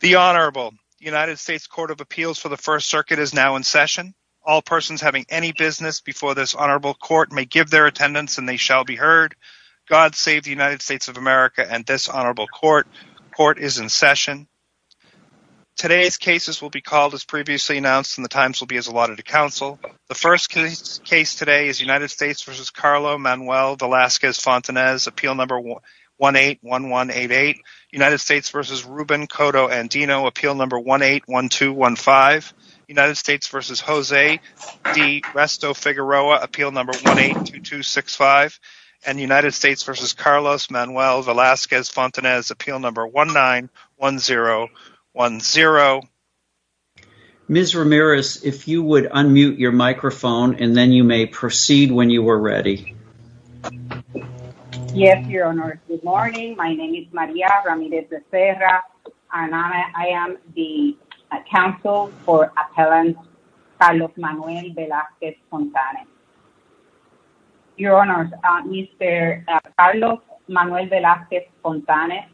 The Honorable United States Court of Appeals for the First Circuit is now in session. All persons having any business before this Honorable Court may give their attendance and they shall be heard. God save the United States of America and this Honorable Court. Court is in session. Today's cases will be called as previously announced and the times will be as allotted to counsel. The first case today is United States v. Carlo Manuel Velazquez-Fontanez Appeal No. 181188 United States v. Ruben Cotto-Andino Appeal No. 181215 United States v. Jose D. Resto-Figueroa Appeal No. 182265 and United States v. Carlos Manuel Velazquez-Fontanez Appeal No. 191010. Ms. Ramirez, if you would unmute your microphone and then you may proceed when you are ready. Yes, Your Honor. Good morning. My name is Maria Ramirez de Serra and I am the counsel for appellant Carlos Manuel Velazquez-Fontanez. Your Honor, Mr. Carlos Manuel Velazquez-Fontanez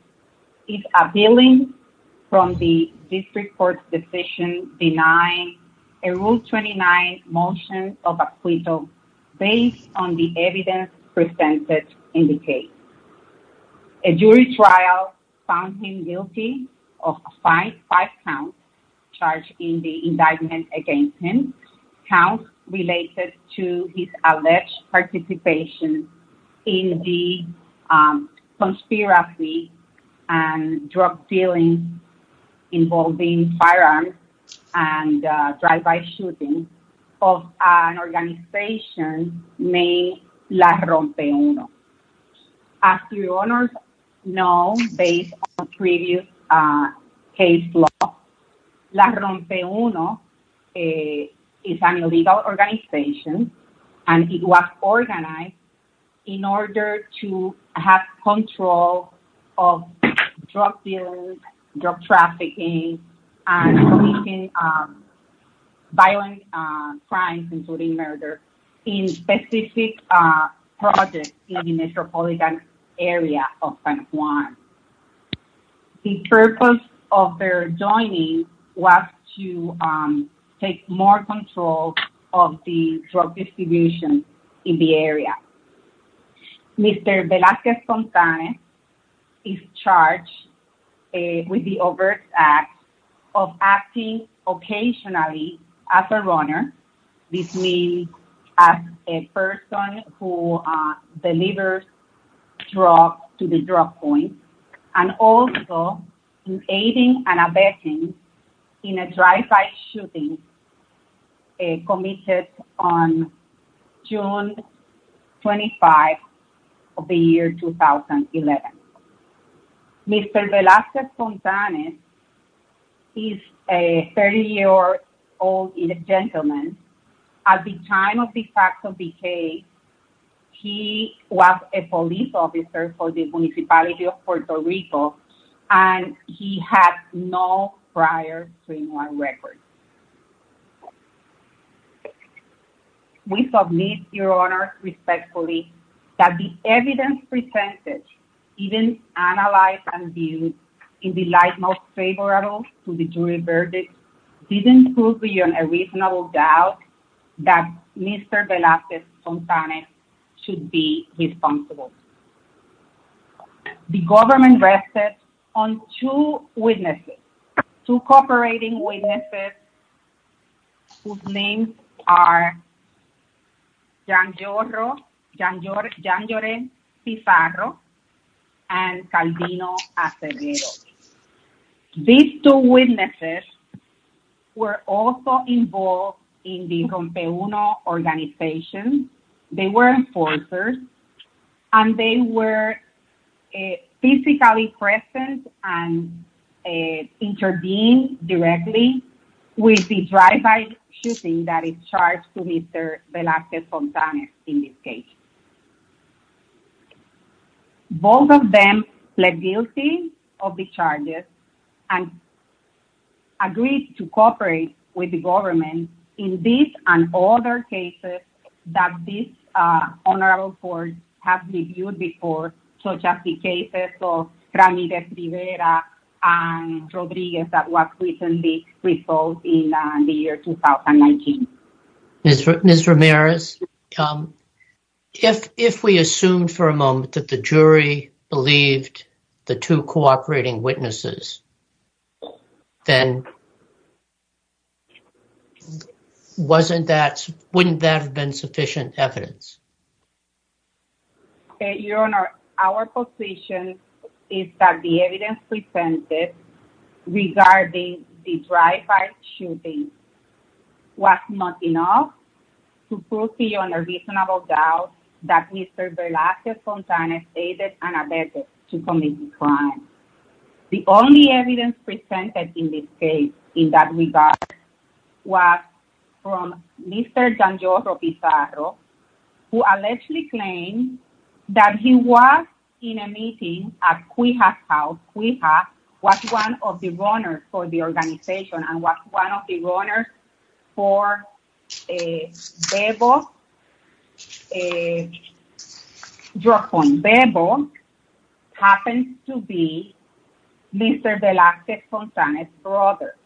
is appealing from the district court's decision denying a Rule 29 motion of acquittal based on the evidence presented in the case. A jury trial found him guilty of five counts charged in the indictment against him, counts related to his alleged participation in the conspiracy and drug dealing involving firearms and drive-by shooting of an organization named La Rompe Uno. As Your Honor knows, based on previous case law, La Rompe Uno is an illegal organization and it was organized in order to have control of drug dealing, drug trafficking, and committing violent crimes including murder in specific projects in the metropolitan area of San Juan. The purpose of their joining was to take more control of the drug distribution in the area. Mr. Velazquez-Fontanez is charged with the overt act of acting occasionally as a runner, this means as a person who delivers drugs to the drug point, and also in aiding and abetting in a drive-by shooting committed on June 25 of the year 2011. Mr. Velazquez-Fontanez is a 30-year-old gentleman. At the time of the fact of the case, he was a police officer for the municipality of Puerto Rico and he had no prior criminal record. We submit, Your Honor, respectfully that the evidence presented, even analyzed and viewed in the light most favorable to the jury verdict didn't prove beyond a reasonable doubt that Mr. Velazquez-Fontanez should be responsible. The government rested on two witnesses, two cooperating witnesses whose names are Jan Jorren Pizarro and Calvino Acevedo. These two witnesses were also involved in the Rompe Uno organization. They were enforcers and they were physically present and intervened directly with the drive-by shooting that is charged to Mr. Velazquez-Fontanez in this case. Both of them pled guilty of the charges and agreed to cooperate with the government in and other cases that this honorable court has reviewed before, such as the cases of Ramirez-Rivera and Rodriguez that was recently resolved in the year 2019. Ms. Ramirez, if we assume for a moment that the jury believed the two cooperating witnesses, then wasn't that, wouldn't there have been sufficient evidence? Okay, Your Honor, our position is that the evidence presented regarding the drive-by shooting was not enough to prove beyond a reasonable doubt that Mr. Velazquez-Fontanez to commit the crime. The only evidence presented in this case in that regard was from Mr. Jan Jorren Pizarro, who allegedly claimed that he was in a meeting at Cuija's house. Cuija was one of the runners for the organization and was one of the runners for Bebo a drug point. Bebo happens to be Mr. Velazquez-Fontanez's brother,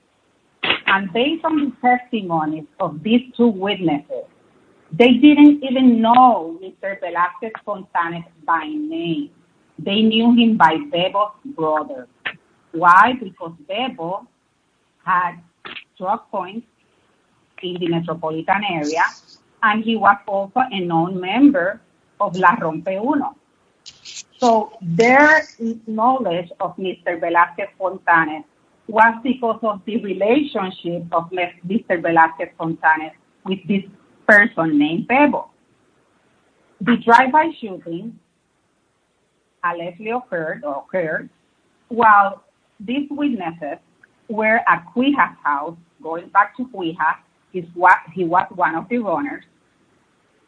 and based on the testimony of these two witnesses, they didn't even know Mr. Velazquez-Fontanez by name. They knew him by Bebo's brother. Why? Because Bebo had drug points in the metropolitan area and he was also a known member of La Rompe Uno. So their knowledge of Mr. Velazquez-Fontanez was because of the relationship of Mr. Velazquez-Fontanez with this person named Bebo. The drive-by shooting allegedly occurred while these witnesses were at Cuija's house, going back to Cuija, he was one of the runners.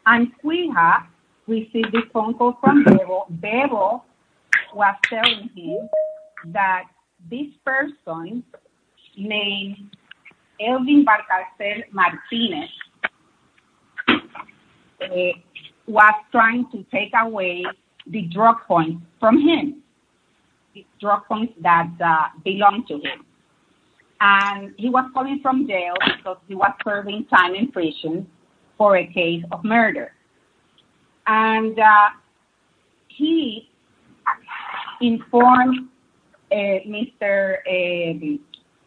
And Cuija received a phone call from Bebo. Bebo was telling him that this person named Elvin Barcalcel-Martinez was trying to take away the drug points from him, the drug points that belonged to him. And he was coming from jail because he was serving time in prison for a case of murder. And he informed Mr.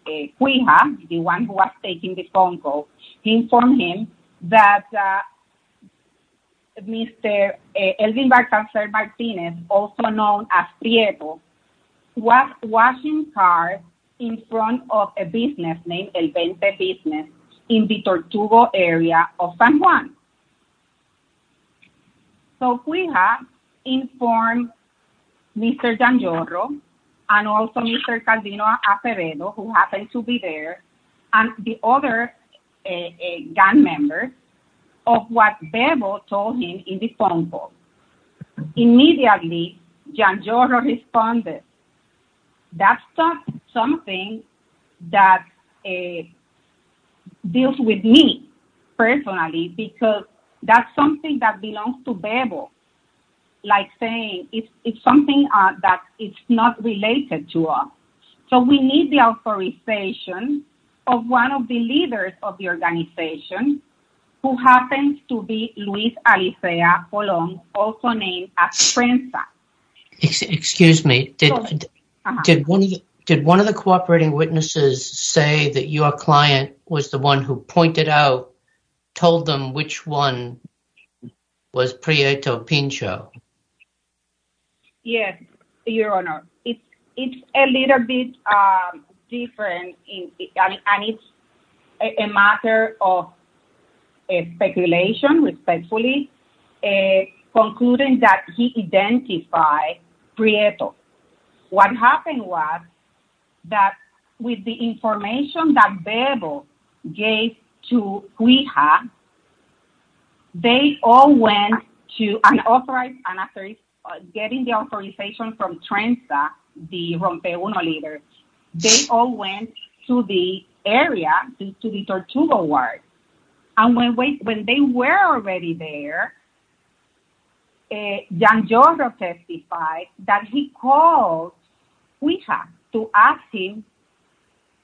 Cuija, the one who was taking the phone call, he informed him that Mr. Elvin Barcalcel-Martinez, also known as Prieto, was washing cars in front of a business named El Vente Business in the Tortugo area of San Juan. So Cuija informed Mr. Janjorro and also Mr. Calvino Aperedo, who happened to be there, and the other gang members of what Bebo told him in the phone call. Immediately Janjorro responded, that's something that deals with me personally, because that's something that belongs to Bebo. Like saying, it's something that is not related to us. So we need the authorization of one of the leaders of the organization, who happens to be Luis Alicia Colón, also known as Prensa. Excuse me, did one of the cooperating witnesses say that your client was the one who pointed out, told them which one was Prieto Pincho? Yes, your honor. It's a little bit different and it's a matter of speculation, respectfully, in concluding that he identified Prieto. What happened was that with the information that Bebo gave to Cuija, they all went to an authorized, and after getting the authorization from Prensa, the Rompeluno leader, they all went to the area, to the Tortugo ward. And when they were already there, Janjorro testified that he called Cuija to ask him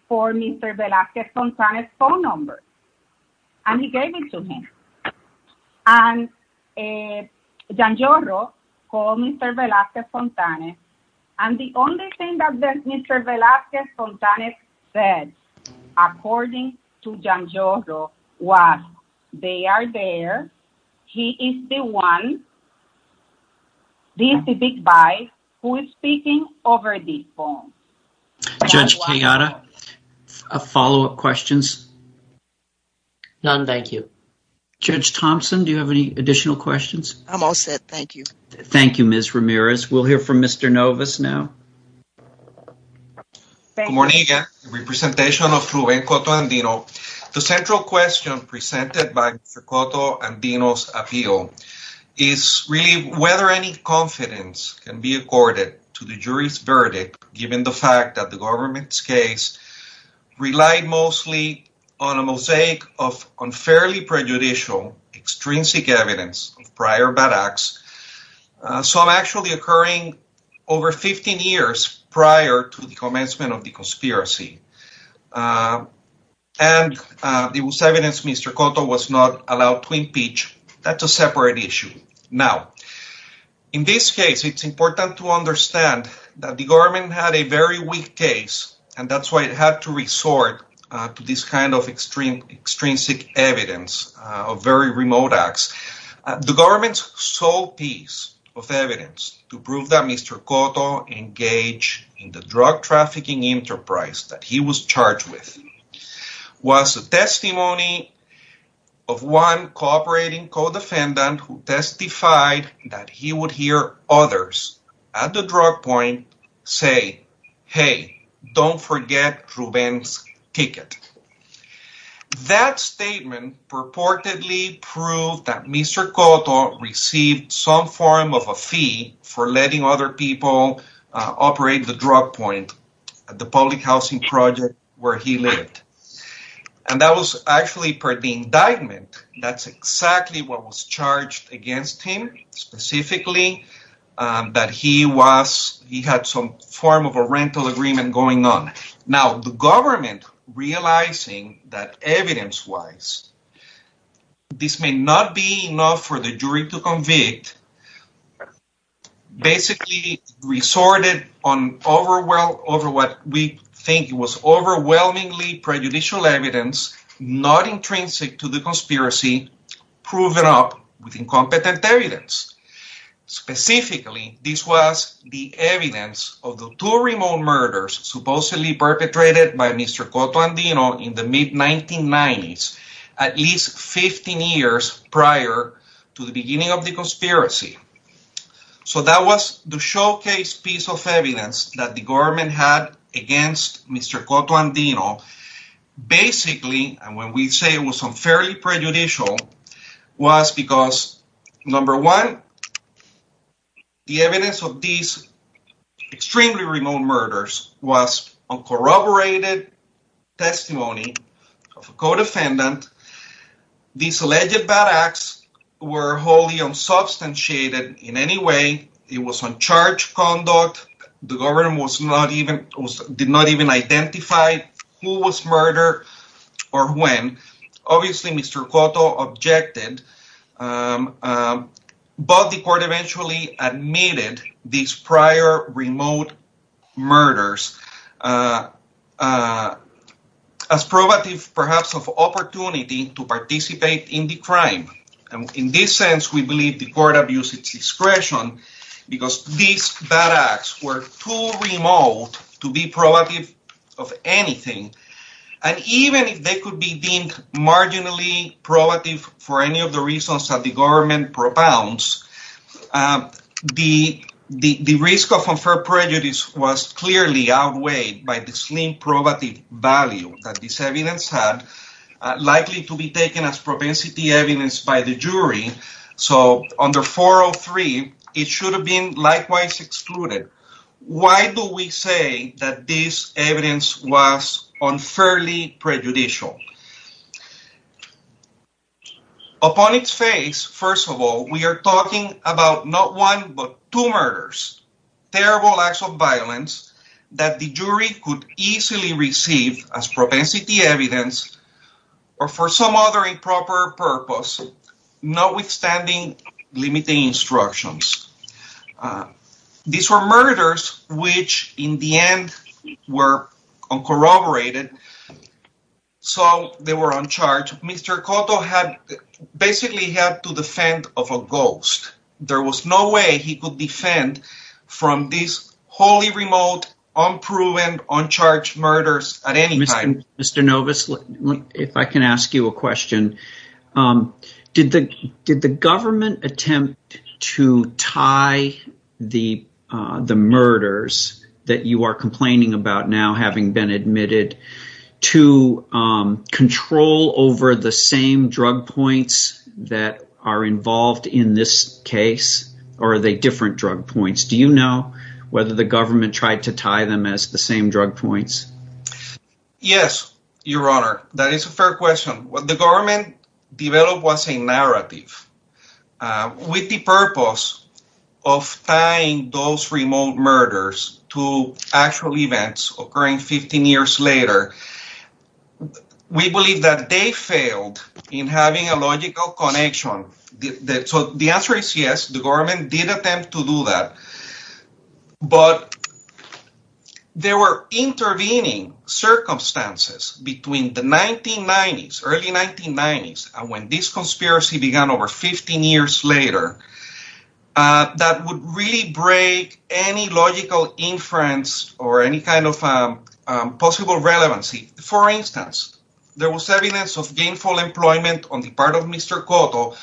for Mr. Velazquez Fontane's phone number, and he gave it to him. And Janjorro called Mr. Velazquez Fontane, and the only thing that Mr. Janjorro was, they are there, he is the one, he is the big guy who is speaking over the phone. Judge Kayada, follow-up questions? None, thank you. Judge Thompson, do you have any additional questions? I'm all set, thank you. Thank you, Ms. Ramirez. We'll hear from Mr. Novas now. Good morning, again, in representation of Juven Coto Andino. The central question presented by Mr. Coto Andino's appeal is really whether any confidence can be accorded to the jury's verdict given the fact that the government's case relied mostly on a mosaic of unfairly prejudicial extrinsic evidence of prior bad acts, some actually occurring over 15 years prior to the commencement of the conspiracy. And there was evidence Mr. Coto was not allowed to impeach. That's a separate issue. Now, in this case, it's important to understand that the government had a very weak case, and that's why it had to resort to this kind of extrinsic evidence of very remote acts. The government's sole piece of evidence to prove that Mr. Coto engaged in the drug trafficking enterprise that he was charged with was a testimony of one cooperating co-defendant who testified that he would hear others at the drug point say, hey, don't forget Ruben's ticket. That statement purportedly proved that Mr. Coto received some form of a fee for letting other people operate the drug point at the public housing project where he lived. And that was per the indictment. That's exactly what was charged against him, specifically that he had some form of a rental agreement going on. Now, the government realizing that evidence-wise, this may not be enough for the jury to convict, basically resorted over what we think was not intrinsic to the conspiracy proven up with incompetent evidence. Specifically, this was the evidence of the two remote murders supposedly perpetrated by Mr. Coto Andino in the mid-1990s, at least 15 years prior to the beginning of the conspiracy. So that was the showcase piece of evidence that the government had against Mr. Coto Andino. Basically, and when we say it was unfairly prejudicial, was because, number one, the evidence of these extremely remote murders was uncorroborated testimony of a co-defendant. These alleged bad acts were wholly unsubstantiated in any way. It was uncharged conduct. The was murdered or when. Obviously, Mr. Coto objected, but the court eventually admitted these prior remote murders as probative, perhaps, of opportunity to participate in the crime. In this sense, we believe the court abused its discretion because these bad acts were too remote to be probative of anything. And even if they could be deemed marginally probative for any of the reasons that the government propounds, the risk of unfair prejudice was clearly outweighed by the slim probative value that this evidence had, likely to be taken as propensity evidence by the jury. So under 403, it should have been likewise excluded. Why do we say that this evidence was unfairly prejudicial? Upon its face, first of all, we are talking about not one but two murders, terrible acts of violence that the jury could easily receive as propensity evidence or for some other improper purpose, notwithstanding limiting instructions. These were murders which, in the end, were uncorroborated. So they were uncharged. Mr. Coto had basically had to defend of a ghost. There was no way he could defend from these wholly If I can ask you a question, did the government attempt to tie the murders that you are complaining about now having been admitted to control over the same drug points that are involved in this case? Or are they different drug points? Do you know whether the government tried to tie them as the same drug points? Yes, your honor. That is a fair question. What the government developed was a narrative with the purpose of tying those remote murders to actual events occurring 15 years later. We believe that they failed in having a logical connection. So the answer is yes, the government did attempt to do that. But there were intervening circumstances between the early 1990s and when this conspiracy began over 15 years later that would really break any logical inference or any kind of possible relevancy. For instance, there was evidence of gainful employment on the part of Mr. Coto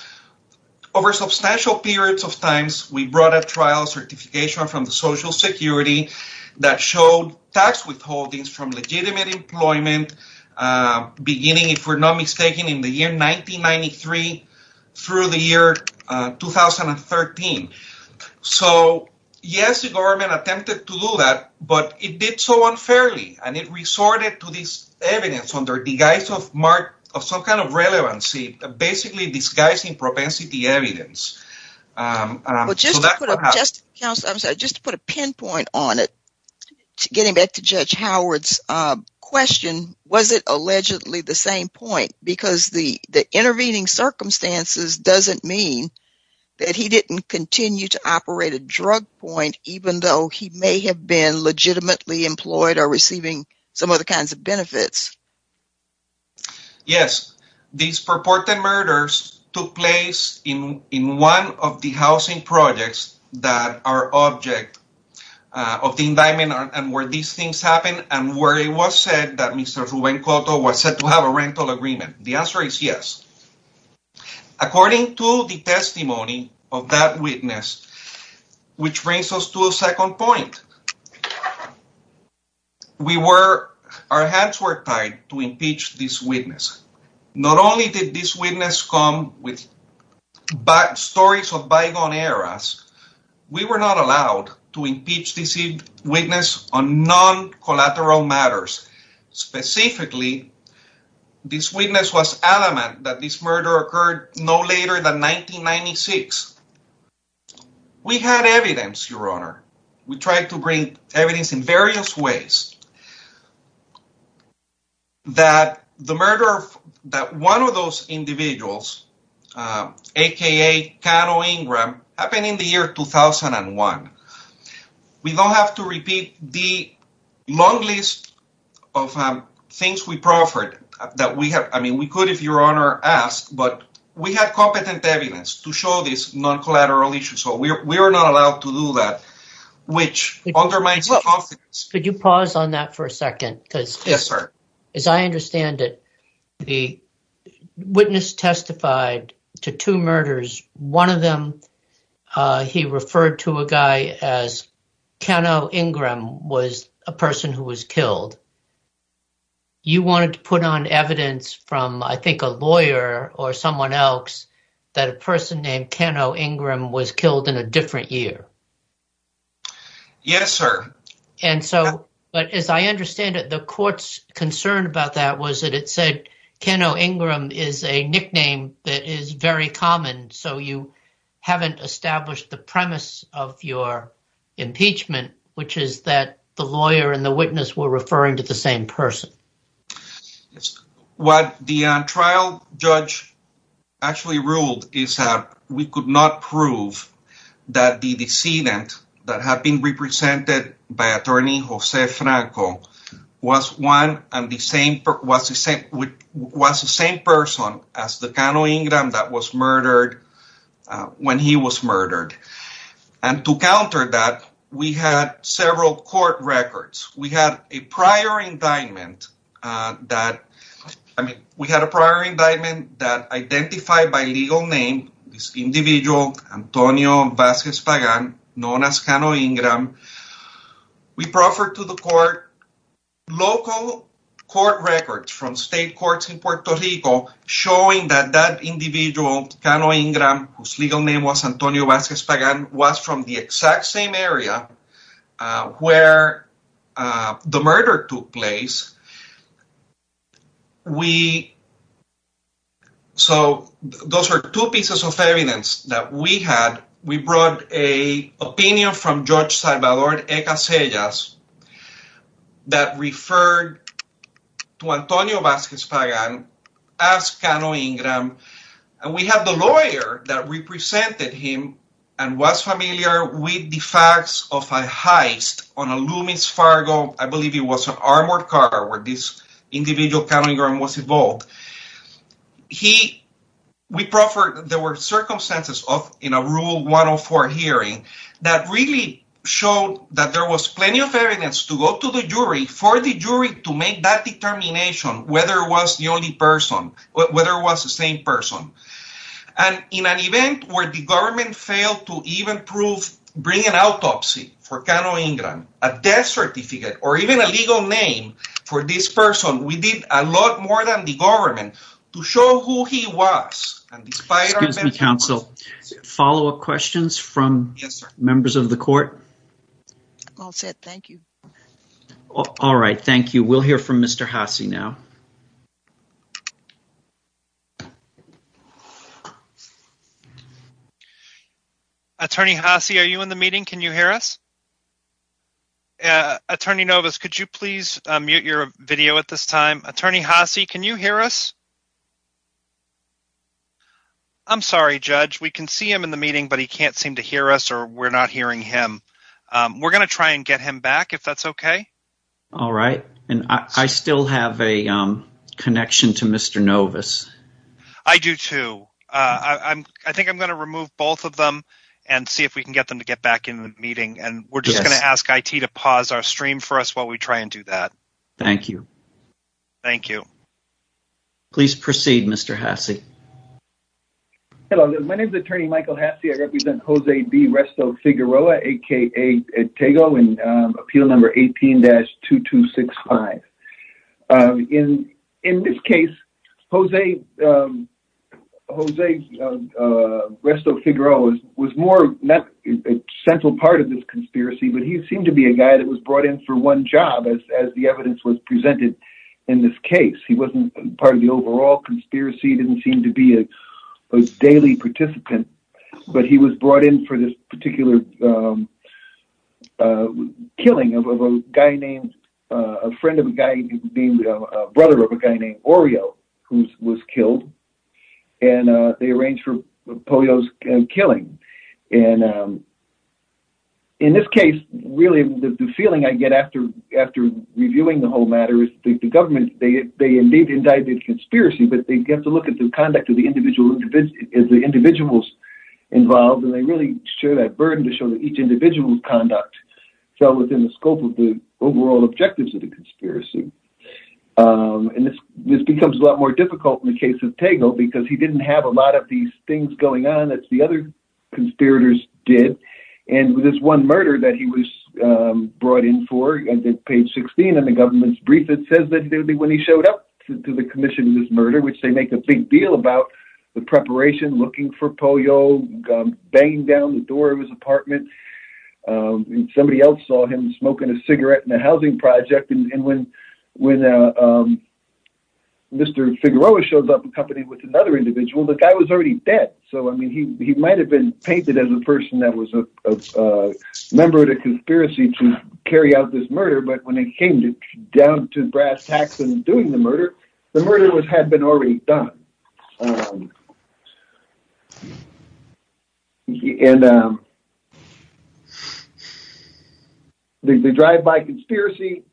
over substantial periods of time. We brought a trial certification from the social security that showed tax withholdings from legitimate employment beginning, if we're not mistaken, in the year 1993 through the year 2013. So yes, the government attempted to do that, but it did so unfairly and it resorted to this evidence under the guise of some kind of relevancy, basically disguising propensity evidence. Just to put a pinpoint on it, getting back to Judge Howard's question, was it allegedly the same point? Because the intervening circumstances doesn't mean that he didn't continue to operate a drug point even though he may have been legitimately employed or receiving some other kinds of benefits. Yes, these purported murders took place in one of the housing projects that are object of the indictment and where these things happen and where it was said that Mr. Ruben Coto was said to have a rental agreement. The answer is yes. According to the testimony of that witness, which brings us to a second point. Our hands were tied to impeach this witness. Not only did this witness come with stories of bygone eras, we were not allowed to impeach this witness on non-collateral matters. Specifically, this witness was adamant that this murder occurred no later than 1996. We had evidence, Your Honor. We tried to bring evidence in various ways that the murder of one of those individuals, aka Cano Ingram, happened in the year 2001. We don't have to repeat the long list of things we proffered. We could, if Your Honor asks, but we had competent evidence to show this non-collateral issue. We were not allowed to do that, which undermines the confidence. Could you pause on that for a second? As I understand it, the witness testified to two murders. One of them, he referred to a guy as Cano Ingram, was a person who was killed. You wanted to put on evidence from, I think, a lawyer or someone else that a person named Cano Ingram was killed in a different year. Yes, sir. As I understand it, the court's concern about that was that it said Cano Ingram is a nickname that is very common, so you haven't established the premise of your impeachment, which is that the lawyer and the witness were referring to the same person. What the trial judge actually ruled is that we could not prove that the decedent that had been murdered was Cano Ingram. To counter that, we had several court records. We had a prior indictment that identified by legal name this individual, Antonio Vasquez Pagan, known as Cano Ingram. We proffered to the court local court records from state courts in Puerto Rico, showing that that individual, Cano Ingram, whose legal name was Antonio Vasquez Pagan, was from the exact same area where the murder took place. Those are two pieces of evidence that we had. We brought an opinion from Judge Salvador E. Casellas that referred to Antonio Vasquez Pagan as Cano Ingram. We had the lawyer that represented him and was familiar with the facts of a heist on a Loomis Fargo, I believe it was an armored car, where this individual, Cano Ingram, was involved. There were circumstances in a Rule 104 hearing that really showed that there was plenty of evidence to go to the jury for the jury to make that determination whether it was the same person. In an event where the government failed to even bring an autopsy for Cano Ingram, a death certificate, or even a legal name for this person, we did a lot more than the government to show who he was. Excuse me, counsel, follow-up questions from members of the court? All set, thank you. All right, thank you. We'll hear from Mr. Haase now. Attorney Haase, are you in the meeting? Can you hear us? Attorney Novus, could you please mute your video at this time? Attorney Haase, can you hear us? I'm sorry, Judge. We can see him in the meeting, but he can't seem to hear us, or we're not hearing him. We're going to try and get him back, if that's okay. All right, and I still have a connection to Mr. Novus. I do, too. I think I'm going to remove both of them and see if we can get them to get back into the meeting, and we're just going to ask IT to pause our stream for us while we try and do that. Thank you. Thank you. Please proceed, Mr. Haase. Hello, my name is Attorney Michael Haase. I represent Jose B. Resto-Figueroa, aka Etego, in Appeal Number 18-2265. In this case, Jose Resto-Figueroa was more not a central part of this conspiracy, but he seemed to be a guy that was brought in for one job, as the evidence was a daily participant, but he was brought in for this particular killing of a guy named—a friend of a guy named—a brother of a guy named Orio, who was killed, and they arranged for Pollo's killing. In this case, really, the feeling I get after reviewing the whole matter is that the government, they indeed indicted conspiracy, but they have to look at the conduct of the individuals involved, and they really share that burden to show that each individual's conduct fell within the scope of the overall objectives of the conspiracy, and this becomes a lot more difficult in the case of Etego because he didn't have a lot of these things going on that the other conspirators did, and with this one murder that he was brought in for, and then page 16 in the government's brief, it says that it would be when he showed up to the commission of this murder, which they make a big deal about the preparation, looking for Pollo, banging down the door of his apartment, and somebody else saw him smoking a cigarette in a housing project, and when Mr. Figueroa shows up accompanied with another individual, the guy was already dead, so, I mean, he might have been painted as a person that was a member of the murder, but when it came down to brass tacks and doing the murder, the murder had been already done, and the drive-by conspiracy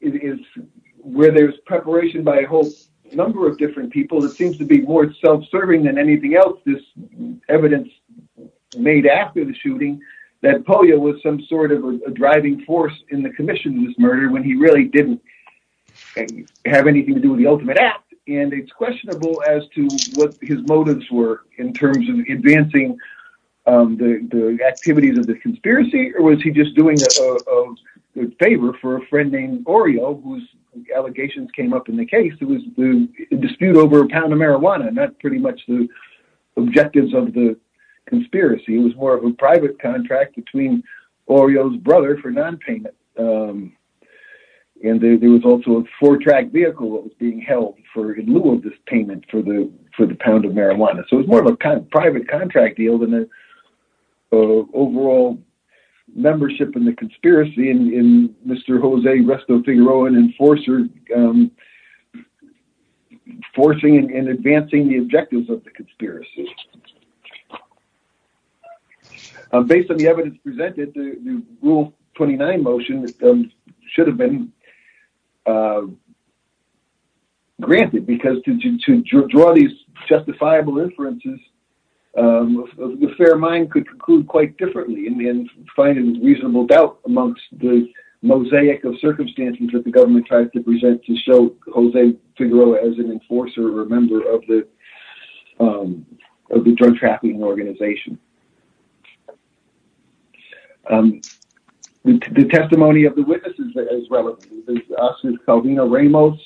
is where there's preparation by a whole number of different people that seems to be more self-serving than anything else, this evidence made after the commission of this murder when he really didn't have anything to do with the ultimate act, and it's questionable as to what his motives were in terms of advancing the activities of the conspiracy, or was he just doing a favor for a friend named Oreo, whose allegations came up in the case, it was the dispute over a pound of marijuana, not pretty much the objectives of the payment, and there was also a four-track vehicle that was being held in lieu of this payment for the pound of marijuana, so it was more of a private contract deal than an overall membership in the conspiracy, and Mr. Jose Resto Figueroa, an enforcer, enforcing and advancing the objectives of the conspiracy. Based on the evidence presented, the Rule 29 motion should have been granted, because to draw these justifiable inferences, the fair mind could conclude quite differently, and find a reasonable doubt amongst the mosaic of circumstances that the of the drug trafficking organization. The testimony of the witnesses that is relevant to us is Calvino Ramos,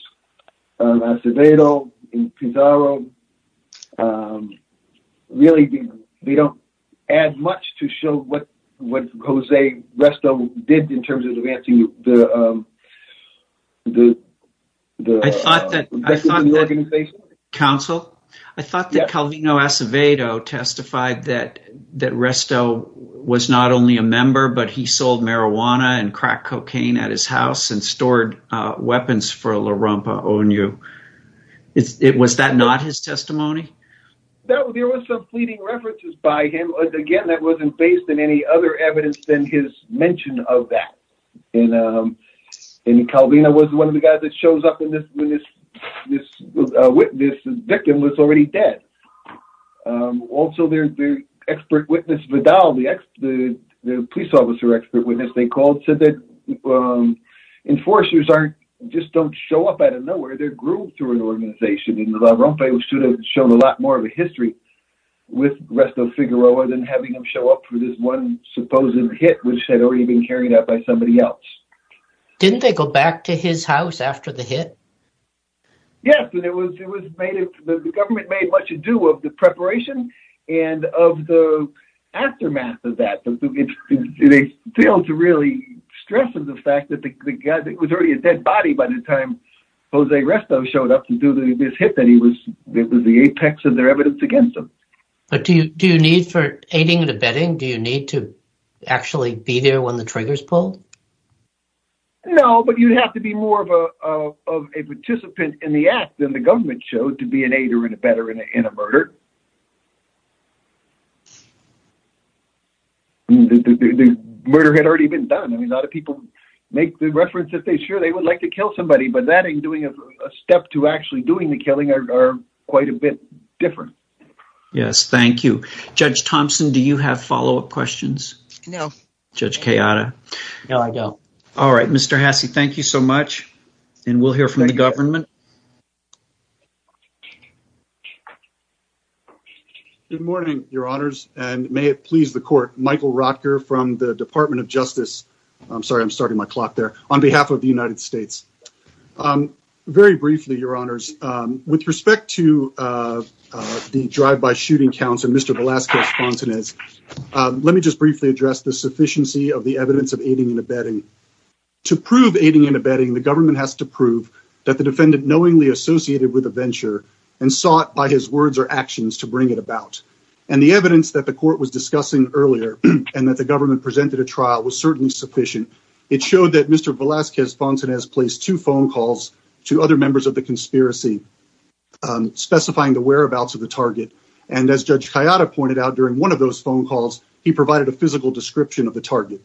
Acevedo, Pizarro, really they don't add much to show what what Jose Resto did in terms of advancing the the organization. I thought that Calvino Acevedo testified that Resto was not only a member, but he sold marijuana and crack cocaine at his house, and stored weapons for La Rampa O.N.U. Was that not his testimony? There was some pleading references by him, again that wasn't based on any other evidence than his mention of that, and Calvino was one of the guys that shows up when this witness, the victim, was already dead. Also their expert witness Vidal, the police officer expert witness they called, said that enforcers just don't show up out of nowhere, they're groomed through an organization, and La Rampa should have shown a lot more of a history with Resto Figueroa than having him show up for this one supposed hit, which had already been carried out by somebody else. Didn't they go back to his house after the hit? Yes, and it was made, the government made much ado of the preparation and of the aftermath of that. They failed to really stress the fact that the guy that was already a dead body by the time Jose Resto showed up to do this hit that he was, it was the apex of their evidence against him. But do you need for aiding and abetting, do you need to actually be there when the trigger's pulled? No, but you'd have to be more of a participant in the act than the government showed to be an aider and abetter in a murder. The murder had already been done, I mean a lot of people make the reference that they sure they would like to kill somebody, but that and doing a step to actually doing the killing are quite a bit different. Yes, thank you. Judge Thompson, do you have follow-up questions? No. Judge Kayada? No, I don't. All right, Mr. Hasse, thank you so much, and we'll hear from the government. Good morning, your honors, and may it please the court, Michael Rotker from the Department of Criminal Justice. With respect to the drive-by shooting counts of Mr. Velazquez-Fontanez, let me just briefly address the sufficiency of the evidence of aiding and abetting. To prove aiding and abetting, the government has to prove that the defendant knowingly associated with a venture and sought by his words or actions to bring it about. And the evidence that the court was discussing earlier and that the government presented a trial was certainly sufficient. It showed that Mr. Velazquez-Fontanez placed two phone calls to other members of the conspiracy specifying the whereabouts of the target, and as Judge Kayada pointed out during one of those phone calls, he provided a physical description of the target.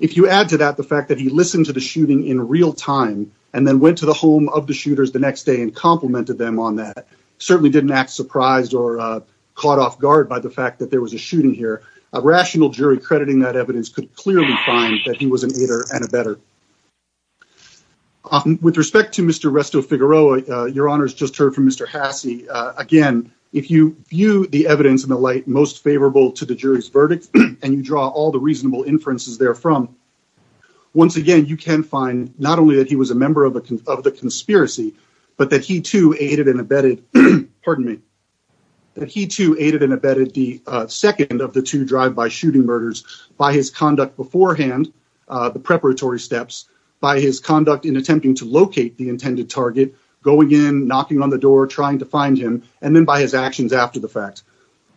If you add to that the fact that he listened to the shooting in real time and then went to the home of the shooters the next day and complimented them on that, certainly didn't act surprised or caught off guard by the fact that there was a shooting here. A rational jury crediting that evidence could clearly find that he was an aider and abetter. With respect to Mr. Resto-Figueroa, your honors just heard from Mr. Hasse, again, if you view the evidence in the light most favorable to the jury's verdict and you draw all the reasonable inferences therefrom, once again you can find not only that he was a second of the two drive-by shooting murders by his conduct beforehand, the preparatory steps, by his conduct in attempting to locate the intended target, going in, knocking on the door, trying to find him, and then by his actions after the fact.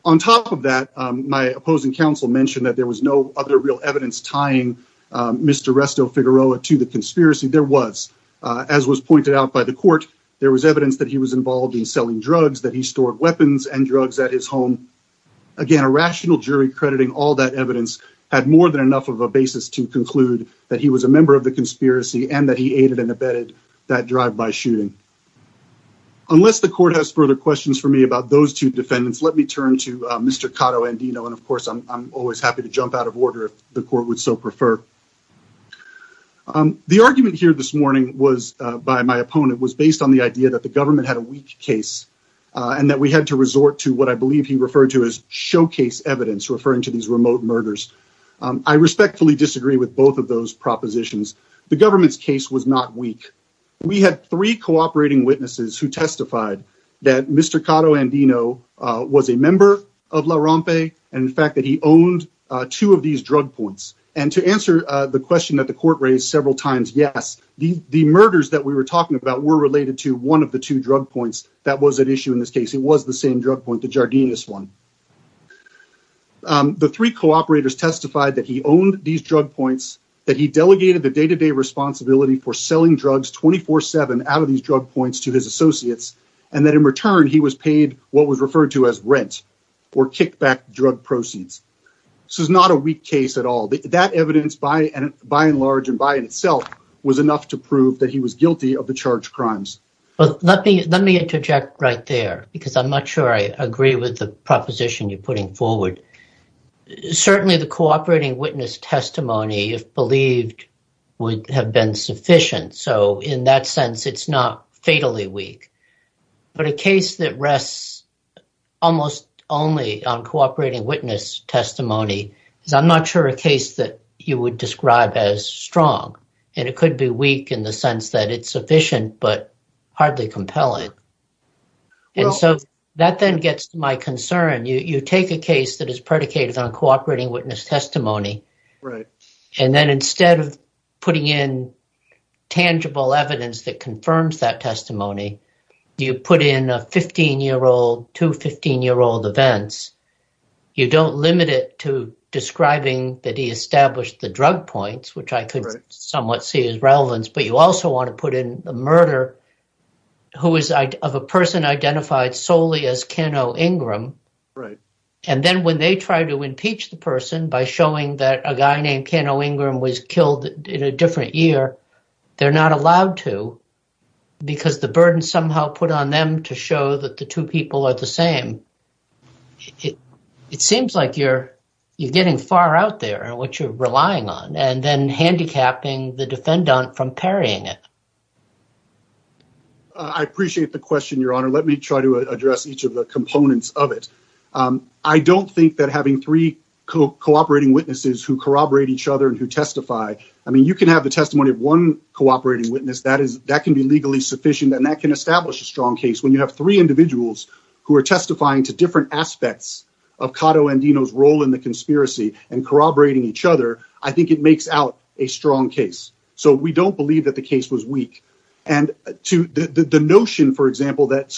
On top of that, my opposing counsel mentioned that there was no other real evidence tying Mr. Resto-Figueroa to the conspiracy. There was. As was pointed out by the court, there was evidence that he was involved in selling drugs, that he stored weapons and drugs at his home. Again, a rational jury crediting all that evidence had more than enough of a basis to conclude that he was a member of the conspiracy and that he aided and abetted that drive-by shooting. Unless the court has further questions for me about those two defendants, let me turn to Mr. Cotto-Andino, and of course I'm always happy to jump out of order if the court would so prefer. The argument here this morning was, by my opponent, was based on the idea that the government had a weak case and that we had to resort to what I believe he referred to as showcase evidence, referring to these remote murders. I respectfully disagree with both of those propositions. The government's case was not weak. We had three cooperating witnesses who testified that Mr. Cotto-Andino was a member of La Rompe, and in fact that he owned two of these drug points. And to answer the question that the court raised several times, yes, the murders that we were talking about were related to one of the two drug points that was at issue in this case. It was the same drug point, the Jardinus one. The three cooperators testified that he owned these drug points, that he delegated the day-to-day responsibility for selling drugs 24-7 out of these drug points to his associates, and that in return he was paid what was referred to as rent, or kickback drug proceeds. This is not a weak case at all. That evidence by and large and by itself was enough to prove that he was guilty of the charged crimes. Let me interject right there, because I'm not sure I agree with the proposition you're putting forward. Certainly the cooperating witness testimony, if believed, would have been sufficient. So in that sense it's not fatally weak. But a case that rests almost only on you would describe as strong, and it could be weak in the sense that it's sufficient but hardly compelling. And so that then gets to my concern. You take a case that is predicated on cooperating witness testimony, and then instead of putting in tangible evidence that confirms that testimony, you put in a 15-year-old, two 15-year-old events. You don't limit it to establish the drug points, which I could somewhat see as relevance, but you also want to put in the murder of a person identified solely as Ken O. Ingram. And then when they try to impeach the person by showing that a guy named Ken O. Ingram was killed in a different year, they're not allowed to because the burden somehow put on them to show that the two people are the same. It seems like you're getting far out there, what you're relying on, and then handicapping the defendant from parrying it. I appreciate the question, Your Honor. Let me try to address each of the components of it. I don't think that having three cooperating witnesses who corroborate each other and who testify, I mean, you can have the testimony of one cooperating witness. That can be legally sufficient and that can establish a strong case. When you have three different aspects of Cotto and Dino's role in the conspiracy and corroborating each other, I think it makes out a strong case. We don't believe that the case was weak. The notion, for example, that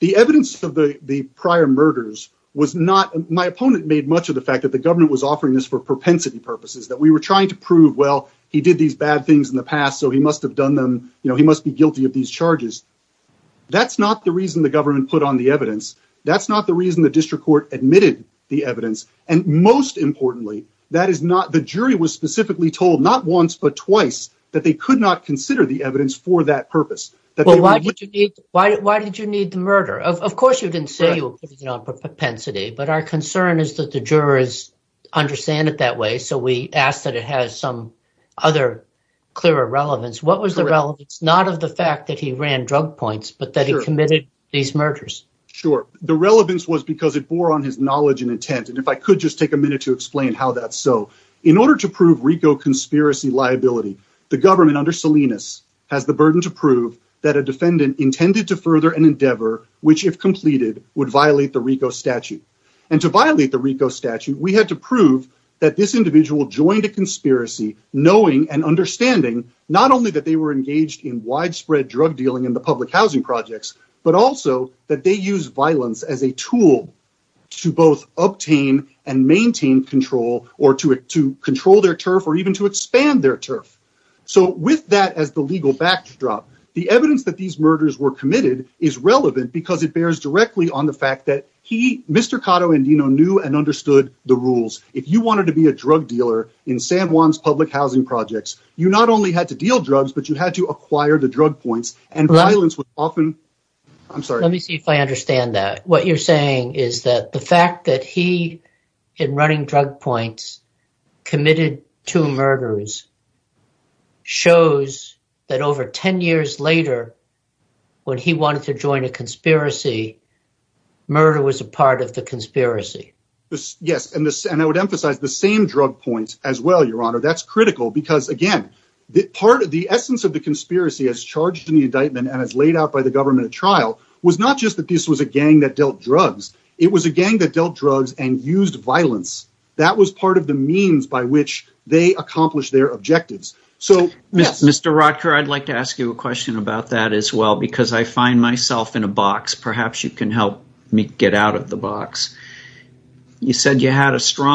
the evidence of the prior murders was not, my opponent made much of the fact that the government was offering this for propensity purposes, that we were trying to prove, well, he did these bad things in the past, so he must have done them. He must be guilty of these That's not the reason the district court admitted the evidence. Most importantly, the jury was specifically told not once but twice that they could not consider the evidence for that purpose. Why did you need the murder? Of course, you didn't say you were putting it on propensity, but our concern is that the jurors understand it that way, so we ask that it has some other clear relevance. What was the relevance? Not of the fact that he ran drug points, but that he committed these murders. Sure. The relevance was because it bore on his knowledge and intent, and if I could just take a minute to explain how that's so. In order to prove RICO conspiracy liability, the government under Salinas has the burden to prove that a defendant intended to further an endeavor which, if completed, would violate the RICO statute, and to violate the RICO statute, we had to prove that this individual joined a conspiracy knowing and understanding not only that they were engaged in widespread drug dealing in the public housing projects, but also that they used violence as a tool to both obtain and maintain control, or to control their turf, or even to expand their turf. So with that as the legal backdrop, the evidence that these murders were committed is relevant because it bears directly on the fact that he, Mr. Cotto Indino, knew and understood the rules. If you wanted to be a drug dealer in San Juan's public housing projects, you not only had to deal drugs, but you had to acquire the drug points, and violence was often... I'm sorry. Let me see if I understand that. What you're saying is that the fact that he, in running drug points, committed two murders, shows that over 10 years later, when he wanted to join a conspiracy, murder was a part of the conspiracy. Yes, and I would emphasize the same drug points as well, that's critical because, again, the essence of the conspiracy as charged in the indictment, and as laid out by the government at trial, was not just that this was a gang that dealt drugs, it was a gang that dealt drugs and used violence. That was part of the means by which they accomplished their objectives. Mr. Rodker, I'd like to ask you a question about that as well, because I find myself in a box. Perhaps you can help me get out of the box. You said you had a necessary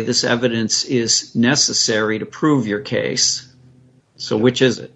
evidence to prove your case, so which is it?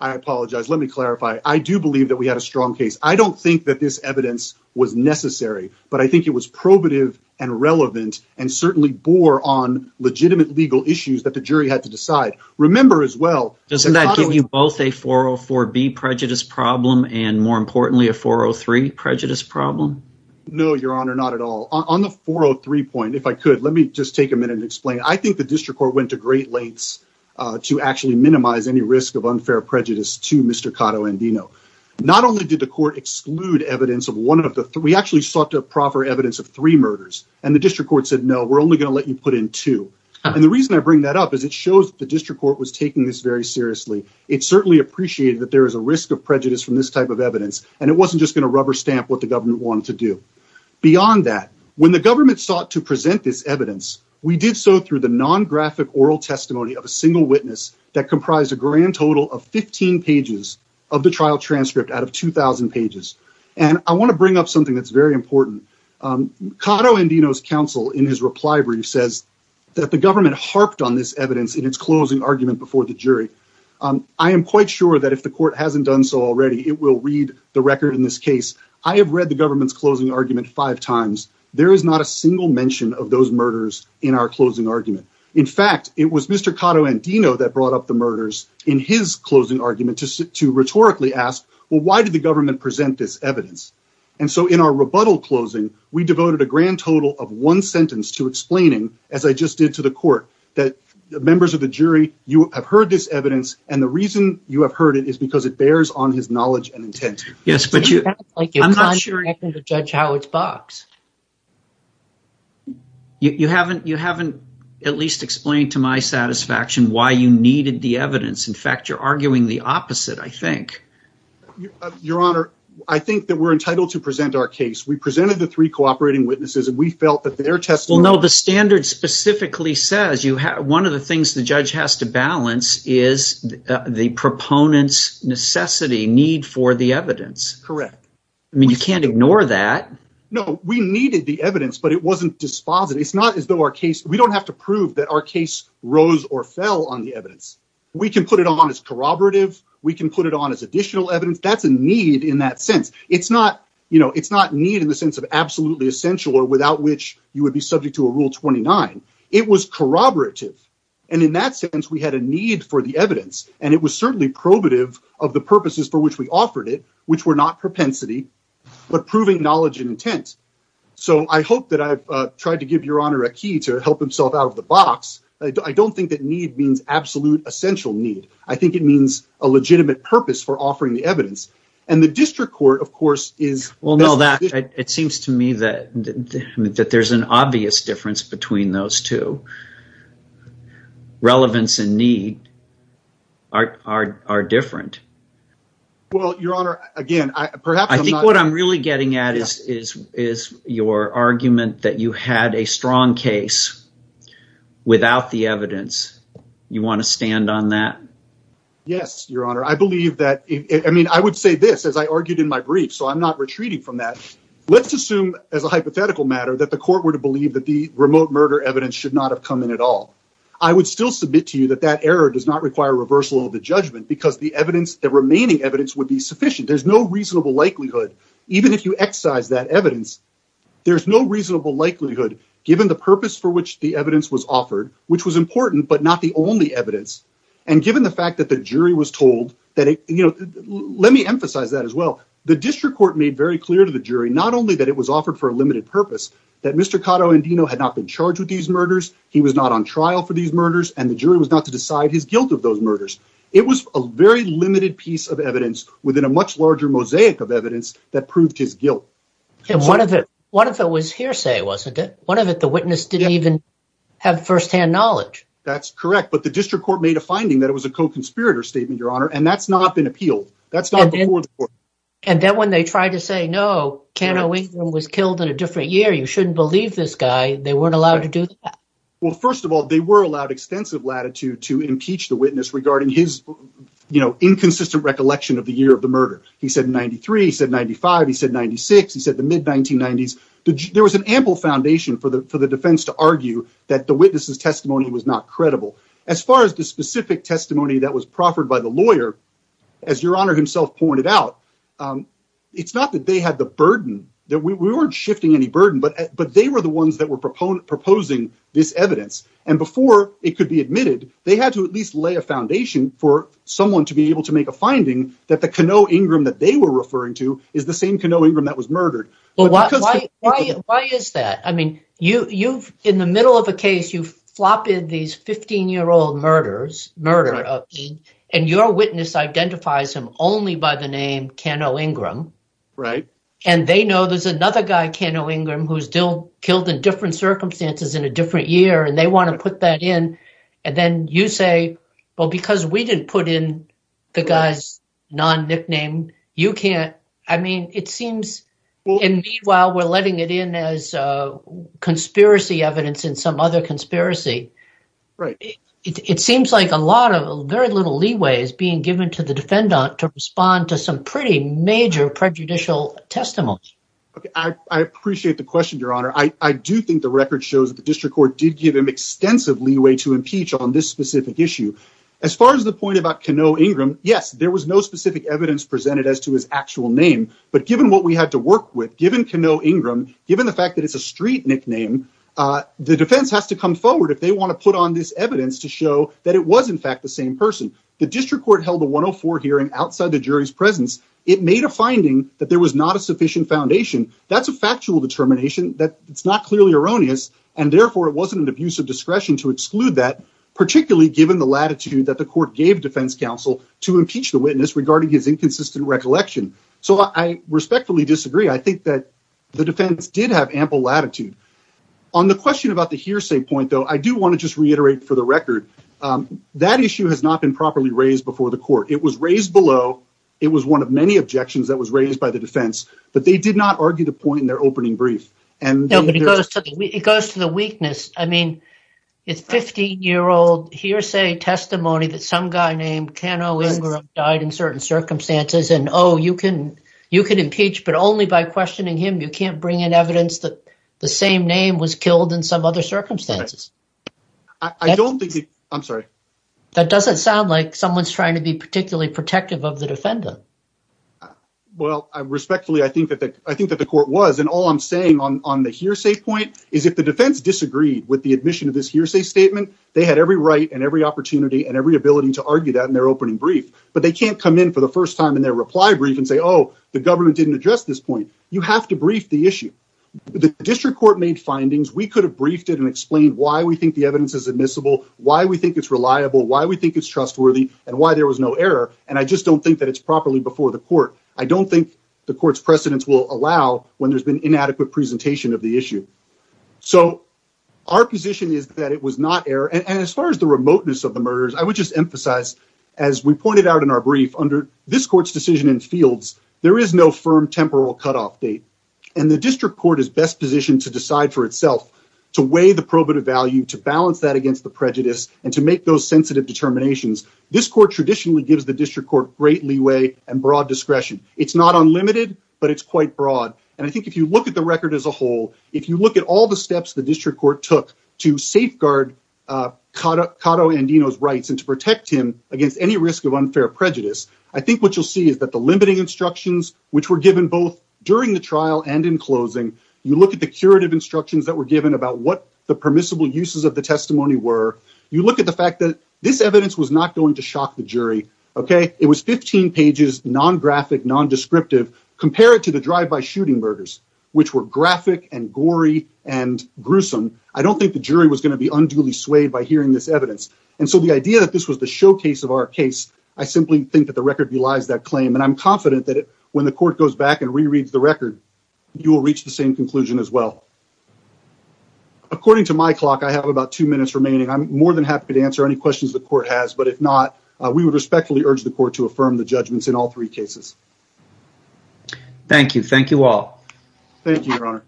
I apologize. Let me clarify. I do believe that we had a strong case. I don't think that this evidence was necessary, but I think it was probative and relevant, and certainly bore on legitimate legal issues that the jury had to decide. Remember as well... Doesn't that give you both a 404B prejudice problem, and more importantly, a 403 prejudice problem? No, your honor, not at all. On the 403 point, if I could, let me just a minute and explain. I think the district court went to great lengths to actually minimize any risk of unfair prejudice to Mr. Cotto and Dino. Not only did the court exclude evidence of one of the three, we actually sought to proffer evidence of three murders, and the district court said, no, we're only going to let you put in two. The reason I bring that up is it shows the district court was taking this very seriously. It certainly appreciated that there is a risk of prejudice from this type of evidence, and it wasn't just going to rubber stamp what the government wanted to do. Beyond that, when the government sought to present this evidence, we did so through the non-graphic oral testimony of a single witness that comprised a grand total of 15 pages of the trial transcript out of 2,000 pages, and I want to bring up something that's very important. Cotto and Dino's counsel, in his reply brief, says that the government harped on this evidence in its closing argument before the jury. I am quite sure that if the court hasn't done so already, it will read the record in this case. I have read the government's closing argument five times. There is not a single mention of those murders in our closing argument. In fact, it was Mr. Cotto and Dino that brought up the murders in his closing argument to rhetorically ask, well, why did the government present this evidence? And so in our rebuttal closing, we devoted a grand total of one sentence to explaining, as I just did to the court, that members of the jury, you have heard this evidence, and the reason you have heard it is because it bears on his knowledge and it's like you're trying to judge Howard's box. You haven't at least explained to my satisfaction why you needed the evidence. In fact, you're arguing the opposite, I think. Your Honor, I think that we're entitled to present our case. We presented the three cooperating witnesses, and we felt that their testimony... Well, no, the standard specifically says one of the things the Correct. I mean, you can't ignore that. No, we needed the evidence, but it wasn't dispositive. It's not as though our case... We don't have to prove that our case rose or fell on the evidence. We can put it on as corroborative. We can put it on as additional evidence. That's a need in that sense. It's not need in the sense of absolutely essential or without which you would be subject to a Rule 29. It was corroborative. And in that sense, we had a need for the evidence, and it was certainly probative of the purposes for which we offered it, which were not propensity, but proving knowledge and intent. So I hope that I've tried to give Your Honor a key to help himself out of the box. I don't think that need means absolute essential need. I think it means a legitimate purpose for offering the evidence. And the district court, of course, is... Well, no, it seems to me that there's an obvious difference between those two, relevance and need are different. Well, Your Honor, again, perhaps... I think what I'm really getting at is your argument that you had a strong case without the evidence. You want to stand on that? Yes, Your Honor. I believe that... I mean, I would say this, as I argued in my brief, so I'm not retreating from that. Let's assume as a hypothetical matter that the court were to believe that the remote murder evidence should not have come in at all. I would still submit to you that that error does not require reversal of the judgment because the evidence, the remaining evidence would be sufficient. There's no reasonable likelihood, even if you excise that evidence, there's no reasonable likelihood given the purpose for which the evidence was offered, which was important, but not the only evidence. And given the fact that the jury was told that... Let me emphasize that as well. The district court made very clear to the jury, not only that it was had not been charged with these murders, he was not on trial for these murders, and the jury was not to decide his guilt of those murders. It was a very limited piece of evidence within a much larger mosaic of evidence that proved his guilt. And one of it was hearsay, wasn't it? One of it, the witness didn't even have firsthand knowledge. That's correct, but the district court made a finding that it was a co-conspirator statement, Your Honor, and that's not been appealed. That's not before the court. And then when they tried to say, no, Ken O'Wheaton was killed in a different year, you shouldn't believe this guy, they weren't allowed to do that. Well, first of all, they were allowed extensive latitude to impeach the witness regarding his inconsistent recollection of the year of the murder. He said 93, he said 95, he said 96, he said the mid-1990s. There was an ample foundation for the defense to argue that the witness's testimony was not credible. As far as the specific testimony that was proffered by the lawyer, as Your Honor himself pointed out, it's not that they had the burden, that we weren't shifting any burden, but they were the ones that were proposing this evidence. And before it could be admitted, they had to at least lay a foundation for someone to be able to make a finding that the Ken O'Ingram that they were referring to is the same Ken O'Ingram that was murdered. Why is that? I mean, in the middle of a case, you flop in these 15-year-old murders, murder, and your witness identifies him only by the name Ken O'Ingram. Right. And they know there's another guy, Ken O'Ingram, who's still killed in different circumstances in a different year, and they want to put that in. And then you say, well, because we didn't put in the guy's non-nickname, you can't. I mean, it seems, and meanwhile, we're letting it in as conspiracy evidence in some other conspiracy. Right. It seems like a lot of, very little leeway is being given to the defendant to respond to some pretty major prejudicial testimony. I appreciate the question, Your Honor. I do think the record shows that the district court did give him extensive leeway to impeach on this specific issue. As far as the point about Ken O'Ingram, yes, there was no specific evidence presented as to his actual name, but given what we had to work with, given Ken O'Ingram, given the fact that it's a street nickname, the defense has to come forward if they want to put on this evidence to show that it was in fact the same person. The district court held a 104 hearing outside the jury's presence. It made a finding that there was not a sufficient foundation. That's a factual determination that it's not clearly erroneous, and therefore it wasn't an abuse of discretion to exclude that, particularly given the latitude that the court gave defense counsel to impeach the witness regarding his inconsistent recollection. So I respectfully disagree. I think that the district court should be held to account for the lack of latitude. On the question about the hearsay point, though, I do want to just reiterate for the record, that issue has not been properly raised before the court. It was raised below. It was one of many objections that was raised by the defense, but they did not argue the point in their opening brief. It goes to the weakness. I mean, it's a 15-year-old hearsay testimony that some guy named Ken O'Ingram died in certain circumstances, and oh, you can impeach, but only by questioning him. You can't bring in evidence that the same name was killed in some other circumstances. That doesn't sound like someone's trying to be particularly protective of the defendant. Well, respectfully, I think that the court was, and all I'm saying on the hearsay point is if the defense disagreed with the admission of this hearsay statement, they had every right and every opportunity and every ability to reply briefly and say, oh, the government didn't address this point. You have to brief the issue. The district court made findings. We could have briefed it and explained why we think the evidence is admissible, why we think it's reliable, why we think it's trustworthy, and why there was no error, and I just don't think that it's properly before the court. I don't think the court's precedents will allow when there's been inadequate presentation of the issue. So our position is that it was not error, and as far as the remoteness of the murders, I would emphasize, as we pointed out in our brief, under this court's decision in fields, there is no firm temporal cutoff date, and the district court is best positioned to decide for itself to weigh the probative value, to balance that against the prejudice, and to make those sensitive determinations. This court traditionally gives the district court great leeway and broad discretion. It's not unlimited, but it's quite broad, and I think if you look at the record as a whole, if you look at all steps the district court took to safeguard Cato Andino's rights and to protect him against any risk of unfair prejudice, I think what you'll see is that the limiting instructions, which were given both during the trial and in closing, you look at the curative instructions that were given about what the permissible uses of the testimony were, you look at the fact that this evidence was not going to shock the jury, okay? It was 15 pages, non-graphic, non-descriptive, compared to the shooting murders, which were graphic and gory and gruesome. I don't think the jury was going to be unduly swayed by hearing this evidence, and so the idea that this was the showcase of our case, I simply think that the record belies that claim, and I'm confident that when the court goes back and rereads the record, you will reach the same conclusion as well. According to my clock, I have about two minutes remaining. I'm more than happy to answer any questions the court has, but if not, we would respectfully urge the court to affirm the all. Thank you, Your Honor.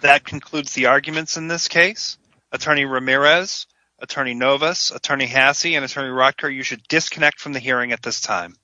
That concludes the arguments in this case. Attorney Ramirez, Attorney Novus, Attorney Hasse, and Attorney Rotker, you should disconnect from the hearing at this time.